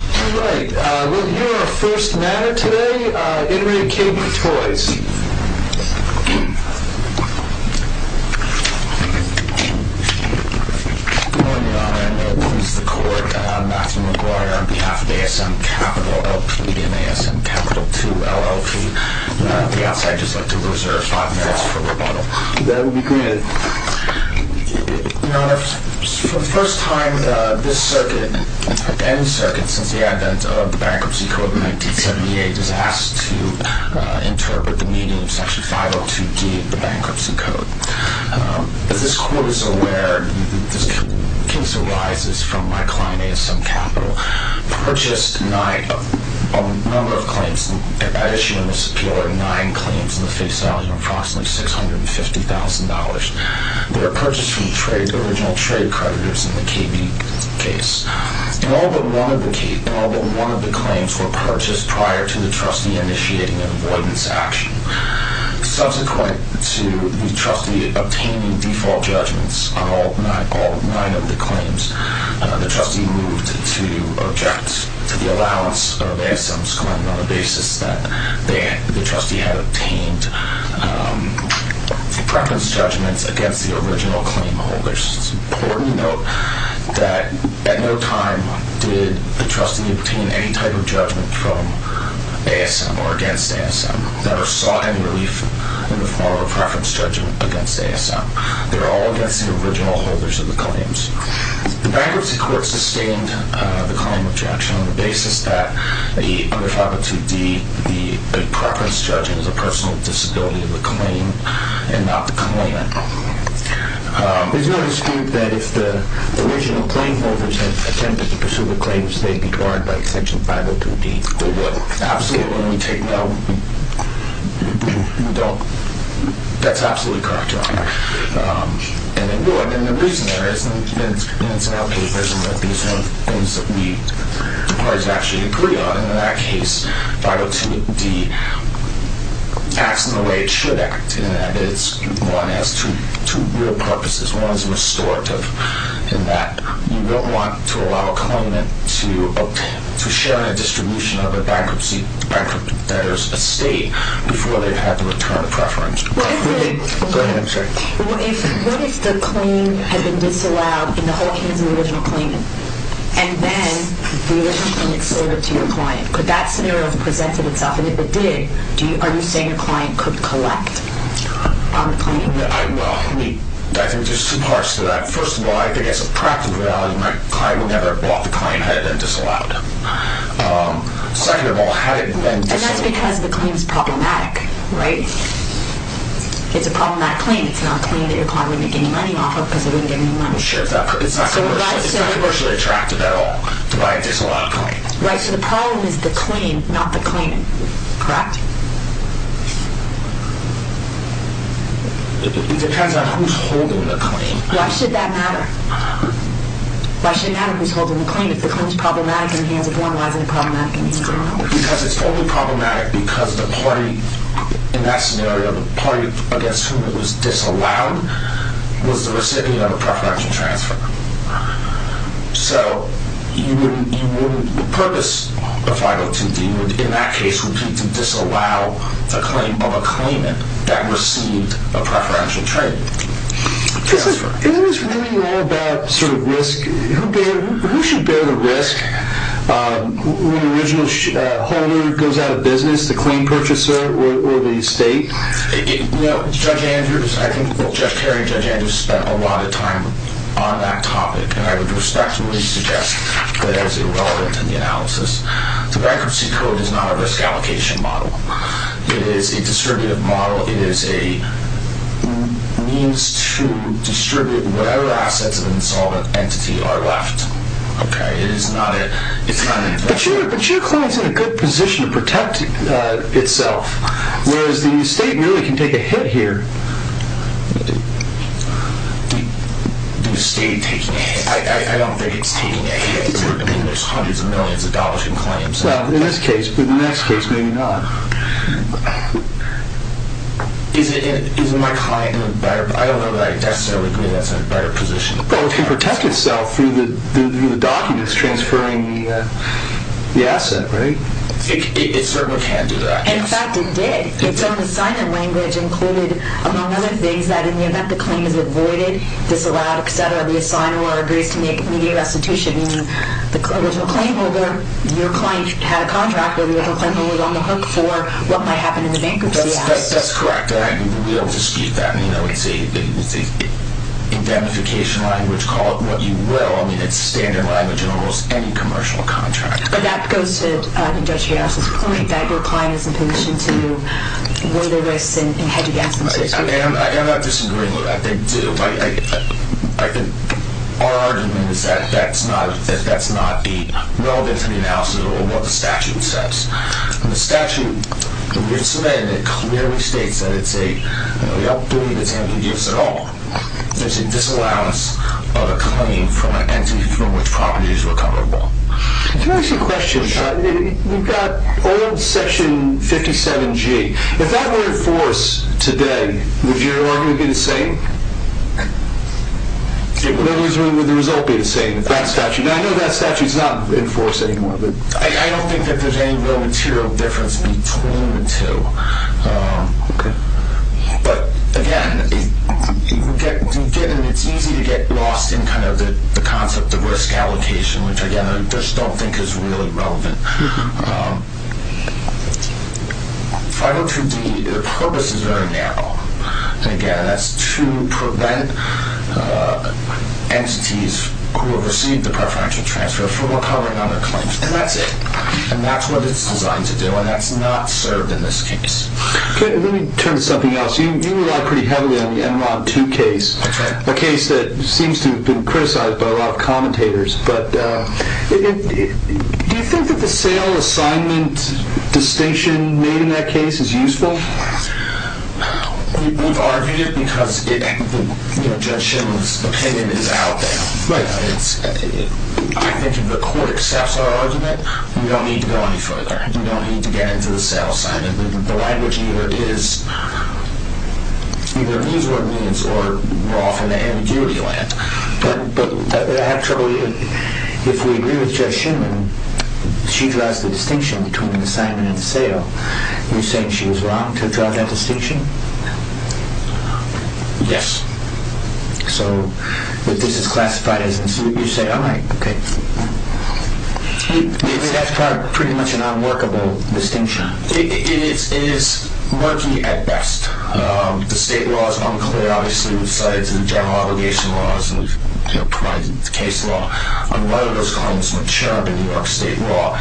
Right, uh, we'll hear our first matter today, uh, in re K.B. Toys. Good morning, your honor. I know it pleases the court, uh, Matthew McGuire on behalf of A.S.M. Capital L.P. and A.S.M. Capital II L.L.P. Uh, the outside just would like to reserve five merits for rebuttal. That would be granted. Your honor, for the first time, uh, this circuit, any circuit since the advent of the bankruptcy code in 1978, is asked to, uh, interpret the meaning of section 502D of the bankruptcy code. Um, as this court is aware, this case arises from my client, A.S.M. Capital, purchased nine, a number of claims, issued in this appeal are nine claims in the face value of approximately $650,000. They were purchased from trade, original trade creditors in the K.B. case. And all but one of the claims were purchased prior to the trustee initiating an avoidance action. Subsequent to the trustee obtaining default judgments on all nine of the claims, uh, the trustee moved to object to the allowance of A.S.M.'s claim on the basis that they, the trustee had obtained, um, preference judgments against the original claim holders. It's important to note that at no time did the trustee obtain any type of judgment from A.S.M. or against A.S.M. That are sought in relief in the form of a preference judgment against A.S.M. They're all against the original holders of the claims. The bankruptcy court sustained, uh, the claim of objection on the basis that the, under 502D, the preference judgment is a personal disability of the claim and not the claimant. Um, there's no dispute that if the original claim holders had attempted to pursue the claims, they'd be barred by section 502D. They would absolutely take no, don't, that's absolutely correct, Your Honor. Um, and the reason there isn't, in some of the papers, these are things that we, the parties actually agree on. In that case, 502D acts in the way it should act. In that it's, one, has two, two real purposes. One is restorative in that you don't want to allow a claimant to obtain, to share in a distribution of a bankruptcy debtor's estate before they've had to return a preference. Go ahead, I'm sorry. What if the claim had been disallowed in the whole hands of the original claimant, and then the original claimant sold it to your client? Could that scenario have presented itself? And if it did, do you, are you saying your client could collect on the claim? I, well, I think there's two parts to that. First of all, I think as a practical reality, my client would never have bought the claim had it been disallowed. Um, second of all, had it been disallowed. And that's because the claim's problematic, right? It's a problematic claim. It's not a claim that your client wouldn't make any money off of because they wouldn't get any money. It's not commercially attractive at all to buy a disallowed claim. Right, so the problem is the claim, not the claimant. Correct? It depends on who's holding the claim. Why should that matter? Why should it matter who's holding the claim? If the claim's problematic in the hands of one, why isn't it problematic in the hands of another? Because it's only problematic because the party in that scenario, the party against whom it was disallowed, was the recipient of a preferential transfer. So, you wouldn't, you wouldn't, the purpose of 502D would, in that case, would be to disallow the claim of a claimant that received a preferential transfer. It was really all about, sort of, risk. Who should bear the risk? When the original holder goes out of business, the claim purchaser or the state? You know, Judge Andrews, I think both Judge Kerry and Judge Andrews spent a lot of time on that topic, and I would respectfully suggest that it is irrelevant in the analysis. The Bankruptcy Code is not a risk allocation model. It is a distributive model. It is a means to distribute whatever assets of an insolvent entity are left. Okay, it is not a... But your claim is in a good position to protect itself, whereas the state really can take a hit here. The state taking a hit? I don't think it's taking a hit. I mean, there's hundreds of millions of dollars in claims. Well, in this case, but in the next case, maybe not. Is my claim in a better... I don't know that I necessarily agree that's in a better position. Well, it can protect itself through the documents transferring the asset, right? It certainly can do that, yes. In fact, it did. Its own assignment language included, among other things, that in the event the claim is avoided, disallowed, etc., the assigner or agrees to make immediate restitution, meaning the original claim holder, your client had a contract where the original claim holder was on the hook for what might happen in the bankruptcy act. That's correct. We'll dispute that. It's a indemnification language. Call it what you will. I mean, it's standard language in almost any commercial contract. But that goes to Judge Rios' point that your client is in a position to weigh the risks and hedge against themselves. I am not disagreeing with that. I think our argument is that that's not relevant to the analysis or what the statute says. The statute, in its amendment, clearly states that it's a we don't believe it's going to be of any use at all. There's a disallowance of a claim from an entity from which properties were coverable. Let me ask you a question. We've got old section 57G. If that were in force today, would your argument be the same? Would the result be the same with that statute? Now, I know that statute is not in force anymore. I don't think that there's any real material difference between the two. Okay. But, again, it's easy to get lost in kind of the concept of risk allocation, which, again, I just don't think is really relevant. 502D, the purpose is very narrow. Again, that's to prevent entities who have received the preferential transfer from recovering on their claims, and that's it. And that's what it's designed to do, and that's not served in this case. Okay. Let me turn to something else. You relied pretty heavily on the Enron 2 case, a case that seems to have been criticized by a lot of commentators. But do you think that the sale assignment distinction made in that case is useful? We've argued it because Judge Schindler's opinion is out there. I think if the court accepts our argument, we don't need to go any further. We don't need to get into the sale assignment. The language either is what it means or we're off in the ambiguity land. But actually, if we agree with Judge Schindler, she draws the distinction between the assignment and the sale. You're saying she was wrong to draw that distinction? Yes. So if this is classified, you say, all right, okay. That's pretty much an unworkable distinction. It is murky at best. The state law is unclear, obviously, besides the general obligation laws and the case law. On one of those columns, the New York state law,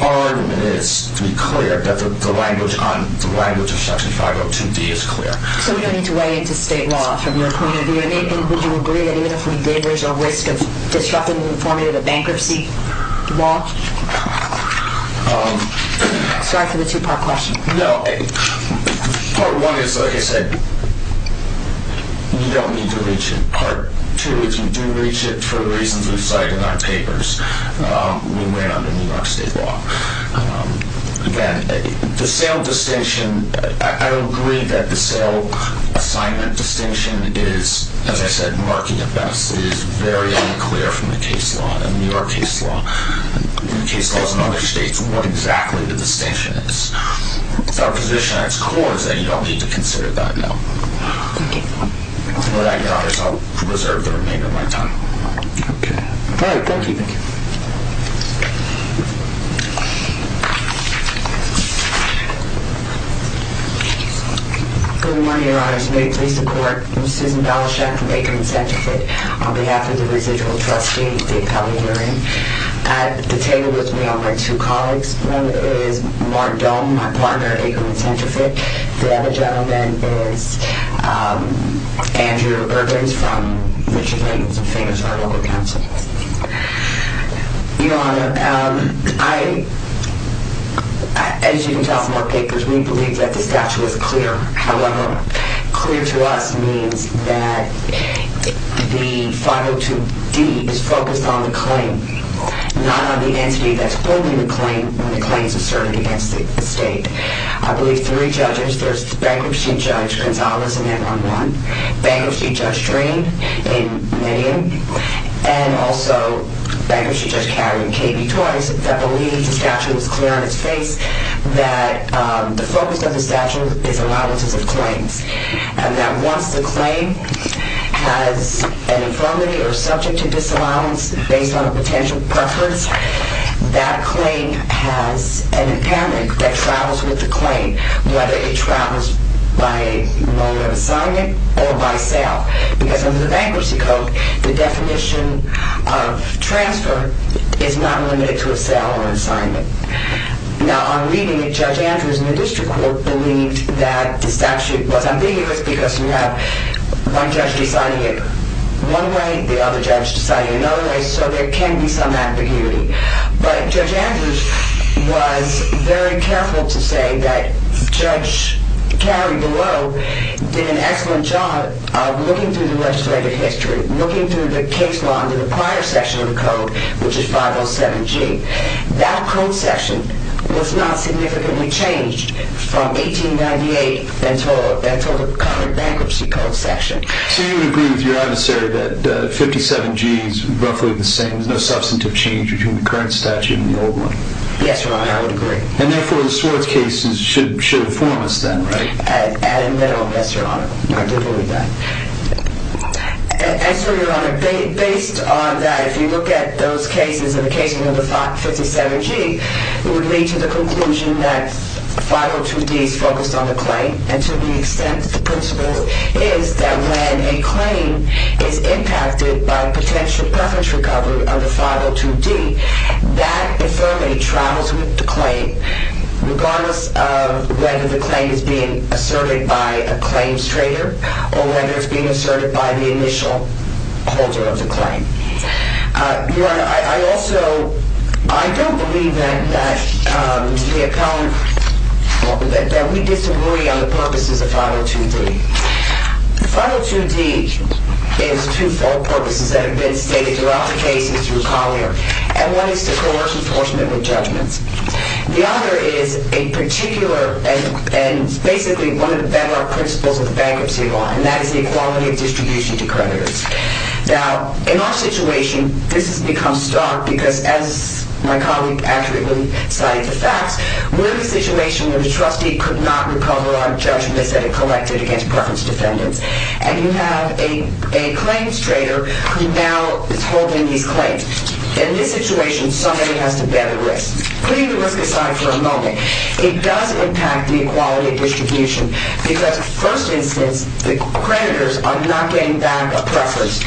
our argument is to be clear that the language of Section 502D is clear. So we don't need to weigh into state law from your point of view. Nathan, would you agree that even if we did, there's a risk of disrupting the formative bankruptcy law? Sorry for the two-part question. No. Part one is, like I said, you don't need to reach it. Part two is you do reach it for the reasons we cite in our papers when we're on the New York state law. Again, the sale distinction, I would agree that the sale assignment distinction is, as I said, murky at best. It is very unclear from the case law and the New York case law and the case laws in other states what exactly the distinction is. Our position at its core is that you don't need to consider that, no. Thank you. With that in mind, I'll reserve the remainder of my time. Okay. All right, thank you. Thank you. Good morning, Your Honors. May it please the Court. I'm Susan Balachek from Aikerman Centrifuge. On behalf of the residual trustee, Dave Pelley, we're at the table with me are my two colleagues. One is Mark Dome, my partner at Aikerman Centrifuge. The other gentleman is Andrew Urbans from Richie's Angles and Famous Heart Local Council. Your Honor, as you can tell from our papers, we believe that the statute is clear. However, clear to us means that the 502D is focused on the claim, not on the entity that's holding the claim when the claim is asserted against the state. I believe three judges, there's Bankruptcy Judge Gonzales, Bankruptcy Judge Drain in Medium, and also Bankruptcy Judge Catton in KB twice, that believe the statute is clear on its face that the focus of the statute is allowances of claims and that once the claim has an infirmity or subject to disallowance based on a potential preference, that claim has an impairment that travels with the claim, whether it travels by loan of assignment or by sale. Because under the Bankruptcy Code, the definition of transfer is not limited to a sale or assignment. Now, on reading it, Judge Andrews in the district court believed that the statute was ambiguous because you have one judge deciding it one way, the other judge deciding it another way, so there can be some ambiguity. But Judge Andrews was very careful to say that Judge Carey below did an excellent job of looking through the legislative history, looking through the case law into the prior section of the code, which is 507G. That code section was not significantly changed from 1898 until the current Bankruptcy Code section. So you would agree with your adversary that 57G is roughly the same, and there's no substantive change between the current statute and the old one? Yes, Your Honor, I would agree. And therefore, the Swartz cases should inform us then, right? At a minimum, yes, Your Honor. I do believe that. And so, Your Honor, based on that, if you look at those cases, in the case number 57G, it would lead to the conclusion that 502D is focused on the claim, and to the extent the principle is that when a claim is impacted by potential preference recovery of the 502D, that infirmity travels with the claim, regardless of whether the claim is being asserted by a claims trader or whether it's being asserted by the initial holder of the claim. Your Honor, I also don't believe then that we disagree on the purposes of 502D. 502D is two-fold purposes that have been stated throughout the cases through Collier, and one is to coerce enforcement with judgments. The other is a particular and basically one of the bedrock principles of the bankruptcy law, and that is the equality of distribution to creditors. Now, in our situation, this has become stark because, as my colleague accurately cited the facts, we're in a situation where the trustee could not recover on judgments that it collected against preference defendants, and you have a claims trader who now is holding these claims. In this situation, somebody has to bear the risk. Putting the risk aside for a moment, it does impact the equality of distribution because, in the first instance, the creditors are not getting back a preference,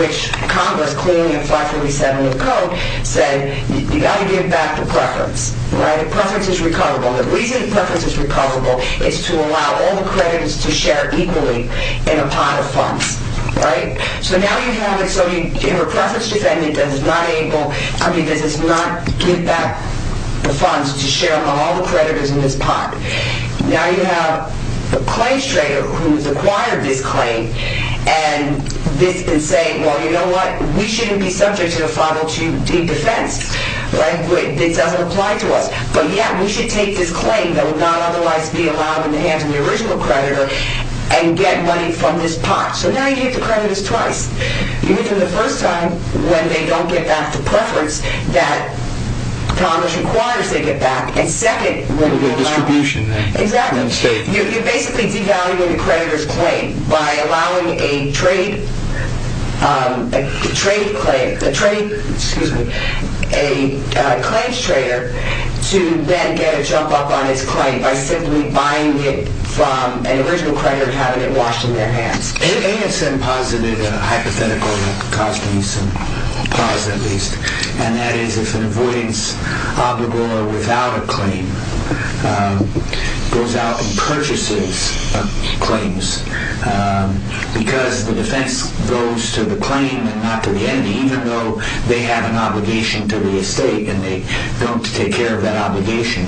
which Congress, clearly in 547 of the Code, said you've got to give back the preference. The preference is recoverable. The reason the preference is recoverable is to allow all the creditors to share equally in a pot of funds, right? So now you have a preference defendant that is not able... I mean, does not give back the funds to share among all the creditors in this pot. Now you have a claims trader who has acquired this claim and this can say, well, you know what, we shouldn't be subject to a 502D defense, right? This doesn't apply to us. But, yeah, we should take this claim that would not otherwise be allowed in the hands of the original creditor and get money from this pot. So now you give the creditors twice. You give them the first time when they don't get back the preference that Congress requires they get back, and second... A little bit of distribution there. Exactly. You're basically devaluing the creditor's claim by allowing a trade... a trade... excuse me... a claims trader to then get a jump up on his claim by simply buying it from an original creditor and having it washed in their hands. It is a positive hypothetical, a cause to be some... a cause, at least. And that is if an avoidance obligor without a claim goes out and purchases claims, because the defense goes to the claim and not to the enemy, even though they have an obligation to the estate and they don't take care of that obligation,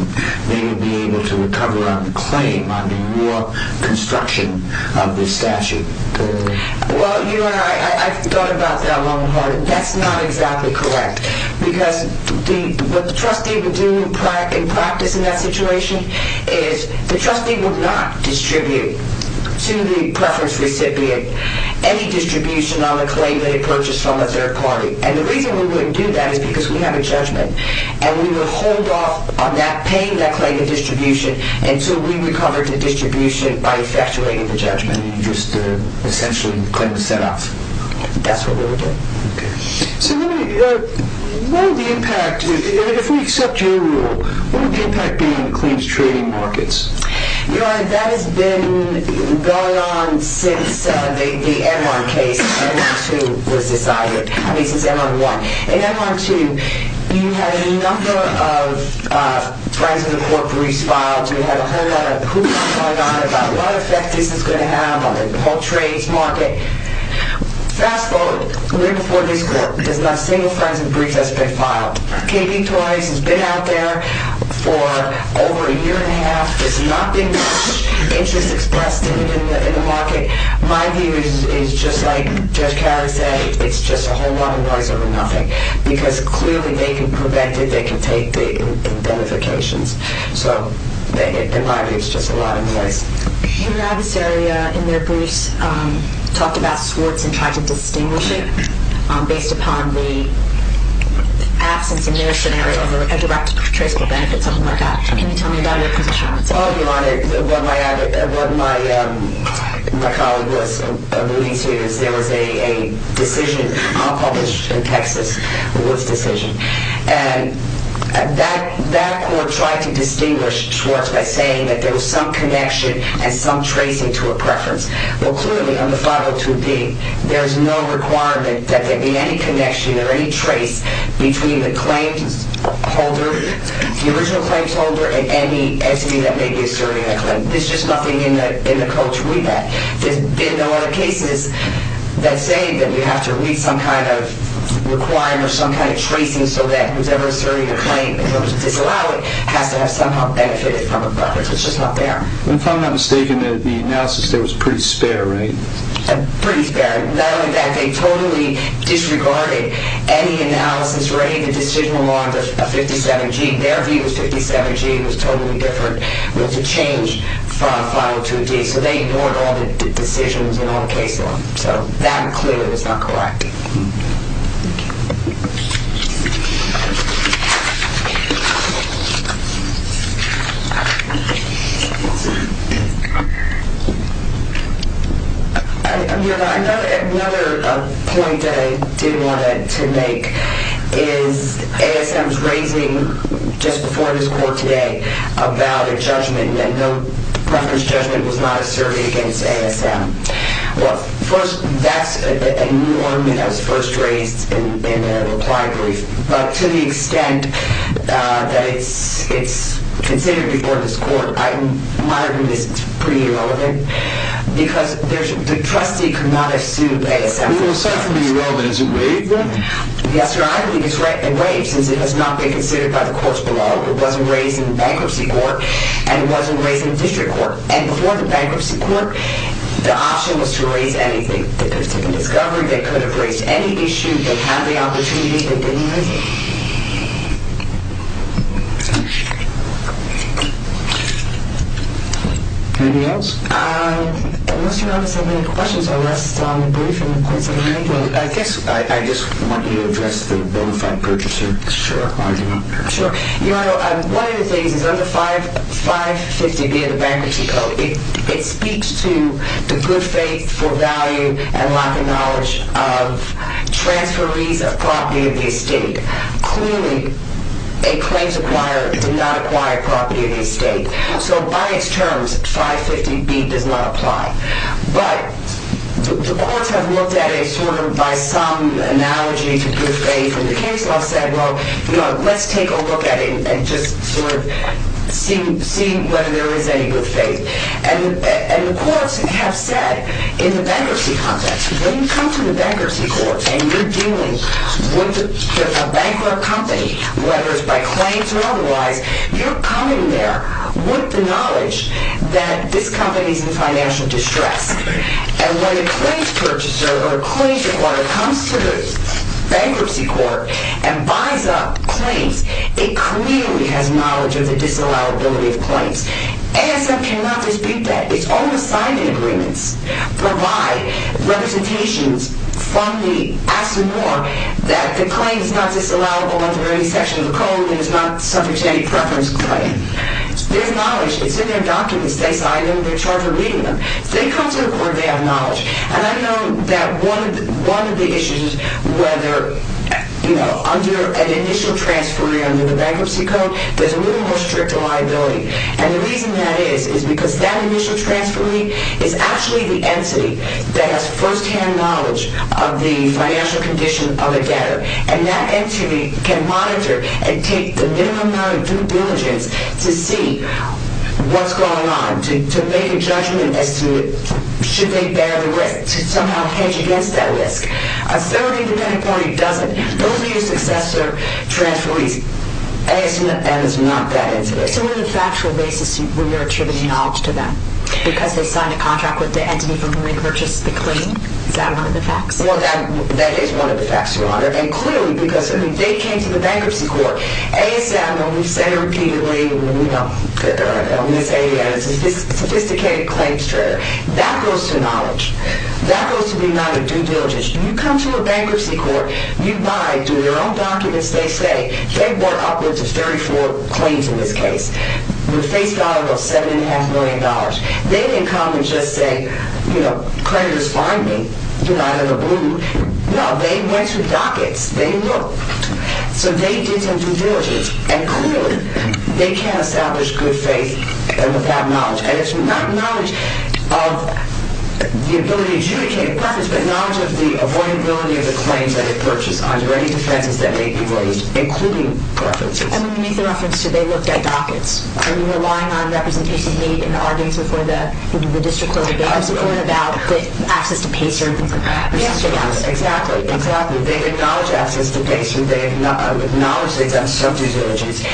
they would be able to recover on the claim under your construction of this statute. Well, you know, I've thought about that long and hard. That's not exactly correct because what the trustee would do in practice in that situation is the trustee would not distribute to the preference recipient any distribution on the claim that he purchased from a third party. And the reason we wouldn't do that is because we have a judgment. And we would hold off on that claim, that claim of distribution, until we recovered the distribution by effectuating the judgment and just essentially the claim was set off. That's what we would do. Okay. So let me... what would the impact... if we accept your rule, what would the impact be on the claims trading markets? Your Honor, that has been going on since the Enron case, Enron 2 was decided, I mean, since Enron 1. In Enron 2, you had a number of Friends of the Court briefs filed. You had a whole lot of hoops going on about what effect this is going to have on the whole trades market. Fast forward, right before this court, there's not a single Friends of the Brief that's been filed. KB Toys has been out there for over a year and a half. There's not been much interest expressed in the market. My view is just like Judge Carey said, it's just a whole lot of noise over nothing. Because clearly they can prevent it, they can take the identifications. So, in my view, it's just a lot of noise. Your adversary in their briefs talked about squirts and tried to distinguish it based upon the absence in their scenario of a direct traceable benefit, something like that. Can you tell me about your position on that? Well, Your Honor, what my colleague was alluding to is there was a decision unpublished in Texas. It was a decision. And that court tried to distinguish squirts by saying that there was some connection and some tracing to a preference. Well, clearly, on the 502B, there's no requirement that there be any connection or any trace between the claims holder, the original claims holder and any entity that may be asserting a claim. There's just nothing in the code to read that. There's been no other cases that say that we have to read some kind of requirement or some kind of tracing so that whosoever is asserting a claim in terms of disallowing has to have somehow benefited from a preference. It's just not there. If I'm not mistaken, the analysis there was pretty spare, right? Pretty spare. Not only that, they totally disregarded any analysis or any of the decision along the 57G. Their view was 57G was totally different. It was a change from 502D. So they ignored all the decisions and all the case law. So that clearly was not correct. Thank you. Another point that I did want to make is ASM's raising just before this court today about a judgment that no preference judgment was not asserted against ASM. Well, first, that's a new argument that was first raised in the reply brief. But to the extent that it's considered before this court, my view is it's pretty irrelevant because the trustee could not have sued ASM. Well, aside from being irrelevant, is it waived then? Yes, sir. I believe it's waived since it has not been considered by the courts below. It wasn't raised in the bankruptcy court and it wasn't raised in the district court. And before the bankruptcy court, the option was to raise anything. They could have taken discovery. They could have raised any issue. They had the opportunity. They didn't raise it. Anything else? Unless you notice I have many questions, I'll rest on the brief and we'll consider it. Well, I guess I just want you to address the bona fide purchaser. Sure. One of the things is under 550B of the bankruptcy code, it speaks to the good faith for value and lack of knowledge of transferees of property of the estate. Clearly, a claims acquirer did not acquire property of the estate. So by its terms, 550B does not apply. But the courts have looked at it sort of by some analogy to good faith. And the case law said, well, let's take a look at it and just sort of see whether there is any good faith. And the courts have said in the bankruptcy context, when you come to the bankruptcy court and you're dealing with a bankrupt company, whether it's by claims or otherwise, you're coming there with the knowledge that this company is in financial distress. And when a claims purchaser or a claims acquirer comes to the bankruptcy court and buys up claims, it clearly has knowledge of the disallowability of claims. ASM cannot dispute that. It's all assigned in agreements. Provide representations. Fund me. Ask me more. That the claim is not disallowable under any section of the code and is not subject to any preference claim. There's knowledge. It's in their documents. They sign them. They're charged for reading them. They come to the court. They have knowledge. And I know that one of the issues is whether under an initial transferee under the bankruptcy code, there's a little more strict liability. And the reason that is is because that initial transferee is actually the entity that has firsthand knowledge of the financial condition of the debtor. And that entity can monitor and take the minimum amount of due diligence to see what's going on, to make a judgment as to should they bear the risk, to somehow hedge against that risk. A third independent party doesn't. Those are your successor transferees. ASM is not that entity. So on a factual basis, you're attributing knowledge to them because they signed a contract with the entity from whom they purchased the claim? Is that one of the facts? Well, that is one of the facts, Your Honor. And clearly, because they came to the bankruptcy court, ASM, when we say repeatedly, when we say a sophisticated claims trader, that goes to knowledge. That goes to the amount of due diligence. You come to a bankruptcy court, you buy, through your own documents, they say they've bought upwards of 34 claims in this case, with face value of $7.5 million. They didn't come and just say, you know, creditors find me, you know, out of the blue. No, they went through dockets. They looked. So they did some due diligence. And clearly, they can't establish good faith with that knowledge. And it's not knowledge of the ability to adjudicate preference, but knowledge of the avoidability of the claims that it purchased under any defenses that may be raised, including preferences. And when you make the reference to they looked at dockets, are you relying on representations made and arguments before the district court, the bankruptcy court, about the access to PACER? Yes. Exactly. Exactly. They acknowledge access to PACER. They acknowledge they've done some due diligence.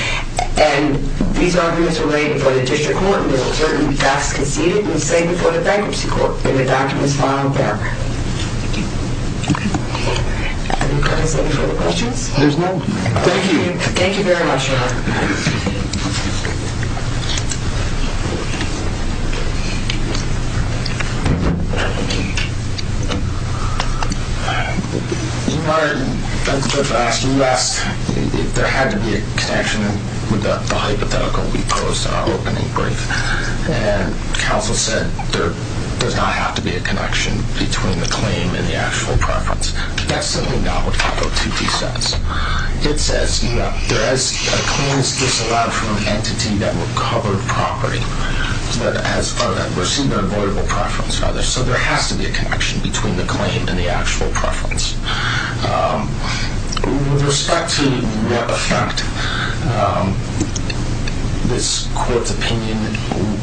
And these arguments are laid before the district court, and there are certain facts conceded, and say before the bankruptcy court, and the documents filed there. Thank you. Okay. Are there any questions? There's none. Thank you. Thank you very much, Ron. Thank you. I can't hear. Okay. Oh, I'm sorry. You might have to ask, if there had to be a connection with the hypothetical we prosed in our opening brief. And counsel said there does not have to be a connection between the claim and the actual preference. That's something Norwood COPO 2d says. It says, you know, there is claims disallowed from an entity that recovered property, but has received an avoidable preference rather. So there has to be a connection between the claim and the actual preference. With respect to what effect this court's opinion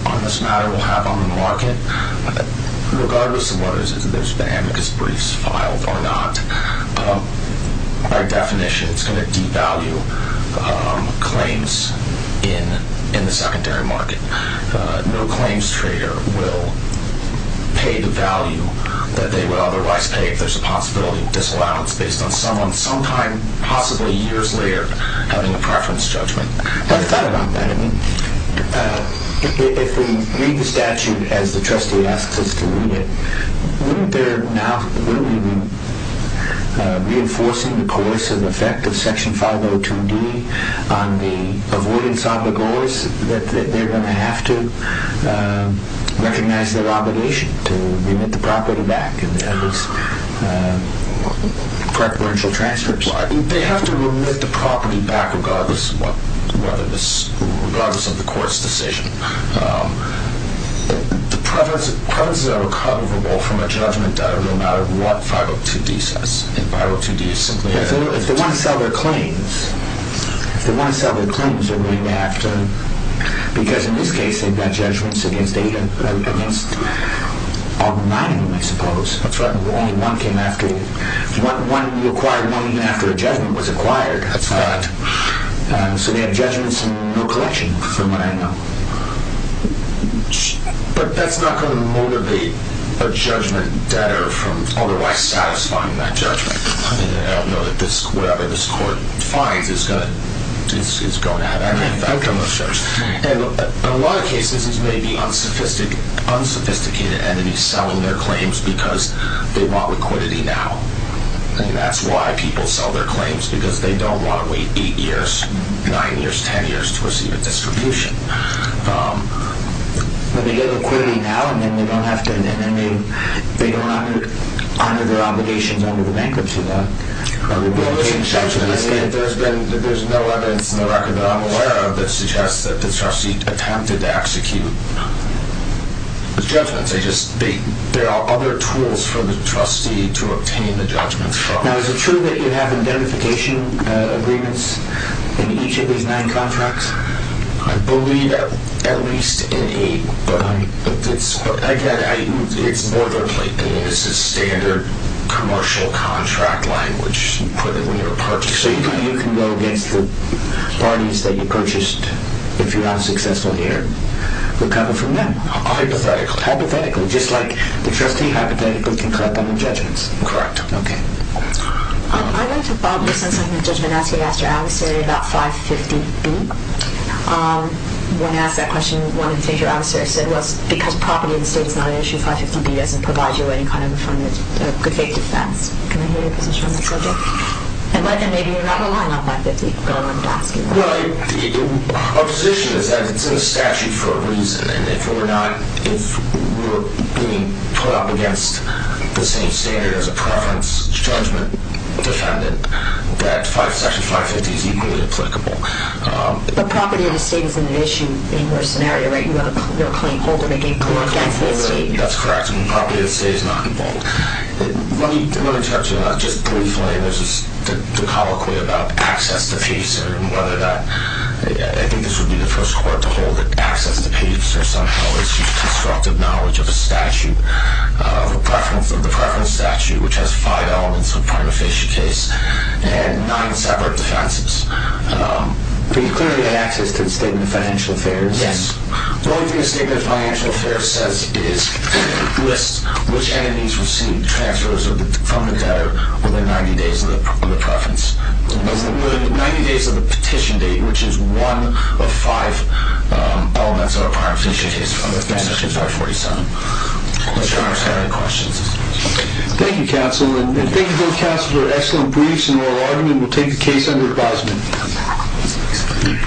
on this matter will have on the market, regardless of whether there's been amicus briefs filed or not, by definition it's going to devalue claims in the secondary market. No claims trader will pay the value that they would otherwise pay if there's a possibility of disallowance based on someone sometime, possibly years later, having a preference judgment. I've thought about that. I mean, if we read the statute as the trustee asks us to read it, wouldn't there now be reinforcing the coercive effect of Section 502d on the avoidance of the goers, that they're going to have to recognize their obligation to remit the property back and at least preferential transfers? They have to remit the property back regardless of the court's decision. The preferences are recoverable from a judgment no matter what 502d says. I think 502d is simply a... If they want to sell their claims, if they want to sell their claims they're going to have to... because in this case they've got judgments against August 9th, I suppose. That's right. Only one came after... one required money after a judgment was acquired. That's right. So they have judgments and no collection from what I know. But that's not going to motivate a judgment debtor from otherwise satisfying that judgment. I mean, I don't know that whatever this court finds is going to have any effect on those judges. And in a lot of cases, these may be unsophisticated entities selling their claims because they want liquidity now. I mean, that's why people sell their claims because they don't want to wait 8 years, 9 years, 10 years to receive a distribution. But they get liquidity now and then they don't have to... they don't honor their obligations under the bankruptcy law. There's no evidence in the record that I'm aware of that suggests that the trustee attempted to execute those judgments. There are other tools for the trustee to obtain the judgments from. Now, is it true that you have identification agreements in each of these 9 contracts? I believe at least in 8. It's more than likely. This is standard commercial contract language you put in when you're purchasing. So you can go against the parties that you purchased if you're unsuccessful here? Recover from them? Hypothetically. Hypothetically, just like the trustee hypothetically can collect on their judgments? Correct. Okay. I'd like to follow up on something that Judge Manaski asked your adversary about 550B. When asked that question, one of the things your adversary said was because property in the state is not an issue, 550B doesn't provide you any kind of a good faith defense. Can I hear your position on that subject? And maybe you're not relying on 550, but I wanted to ask you that. Well, our position is that it's in the statute for a reason and if we're being put up against the same standard as a preference judgment defendant, that section 550 is equally applicable. But property in the state is an issue in your scenario, right? You have a claim holder making a claim against the state. That's correct. Property in the state is not involved. Let me interrupt you on that. Just briefly, there's this colloquy about access to peace and whether that – I think this would be the first court to hold that access to peace or some other constructive knowledge of a statute of a preference of the preference statute, which has five elements of a prima facie case and nine separate defenses. But you clearly have access to the Statement of Financial Affairs. Yes. The only thing the Statement of Financial Affairs says is it lists which entities receive transfers from the debtor within 90 days of the preference. Within 90 days of the petition date, which is one of five elements of a prima facie case under section 547. I'm not sure I understand the questions. Thank you, counsel. And thank you both, counsel, for excellent briefs and oral argument. We'll take the case under advisement.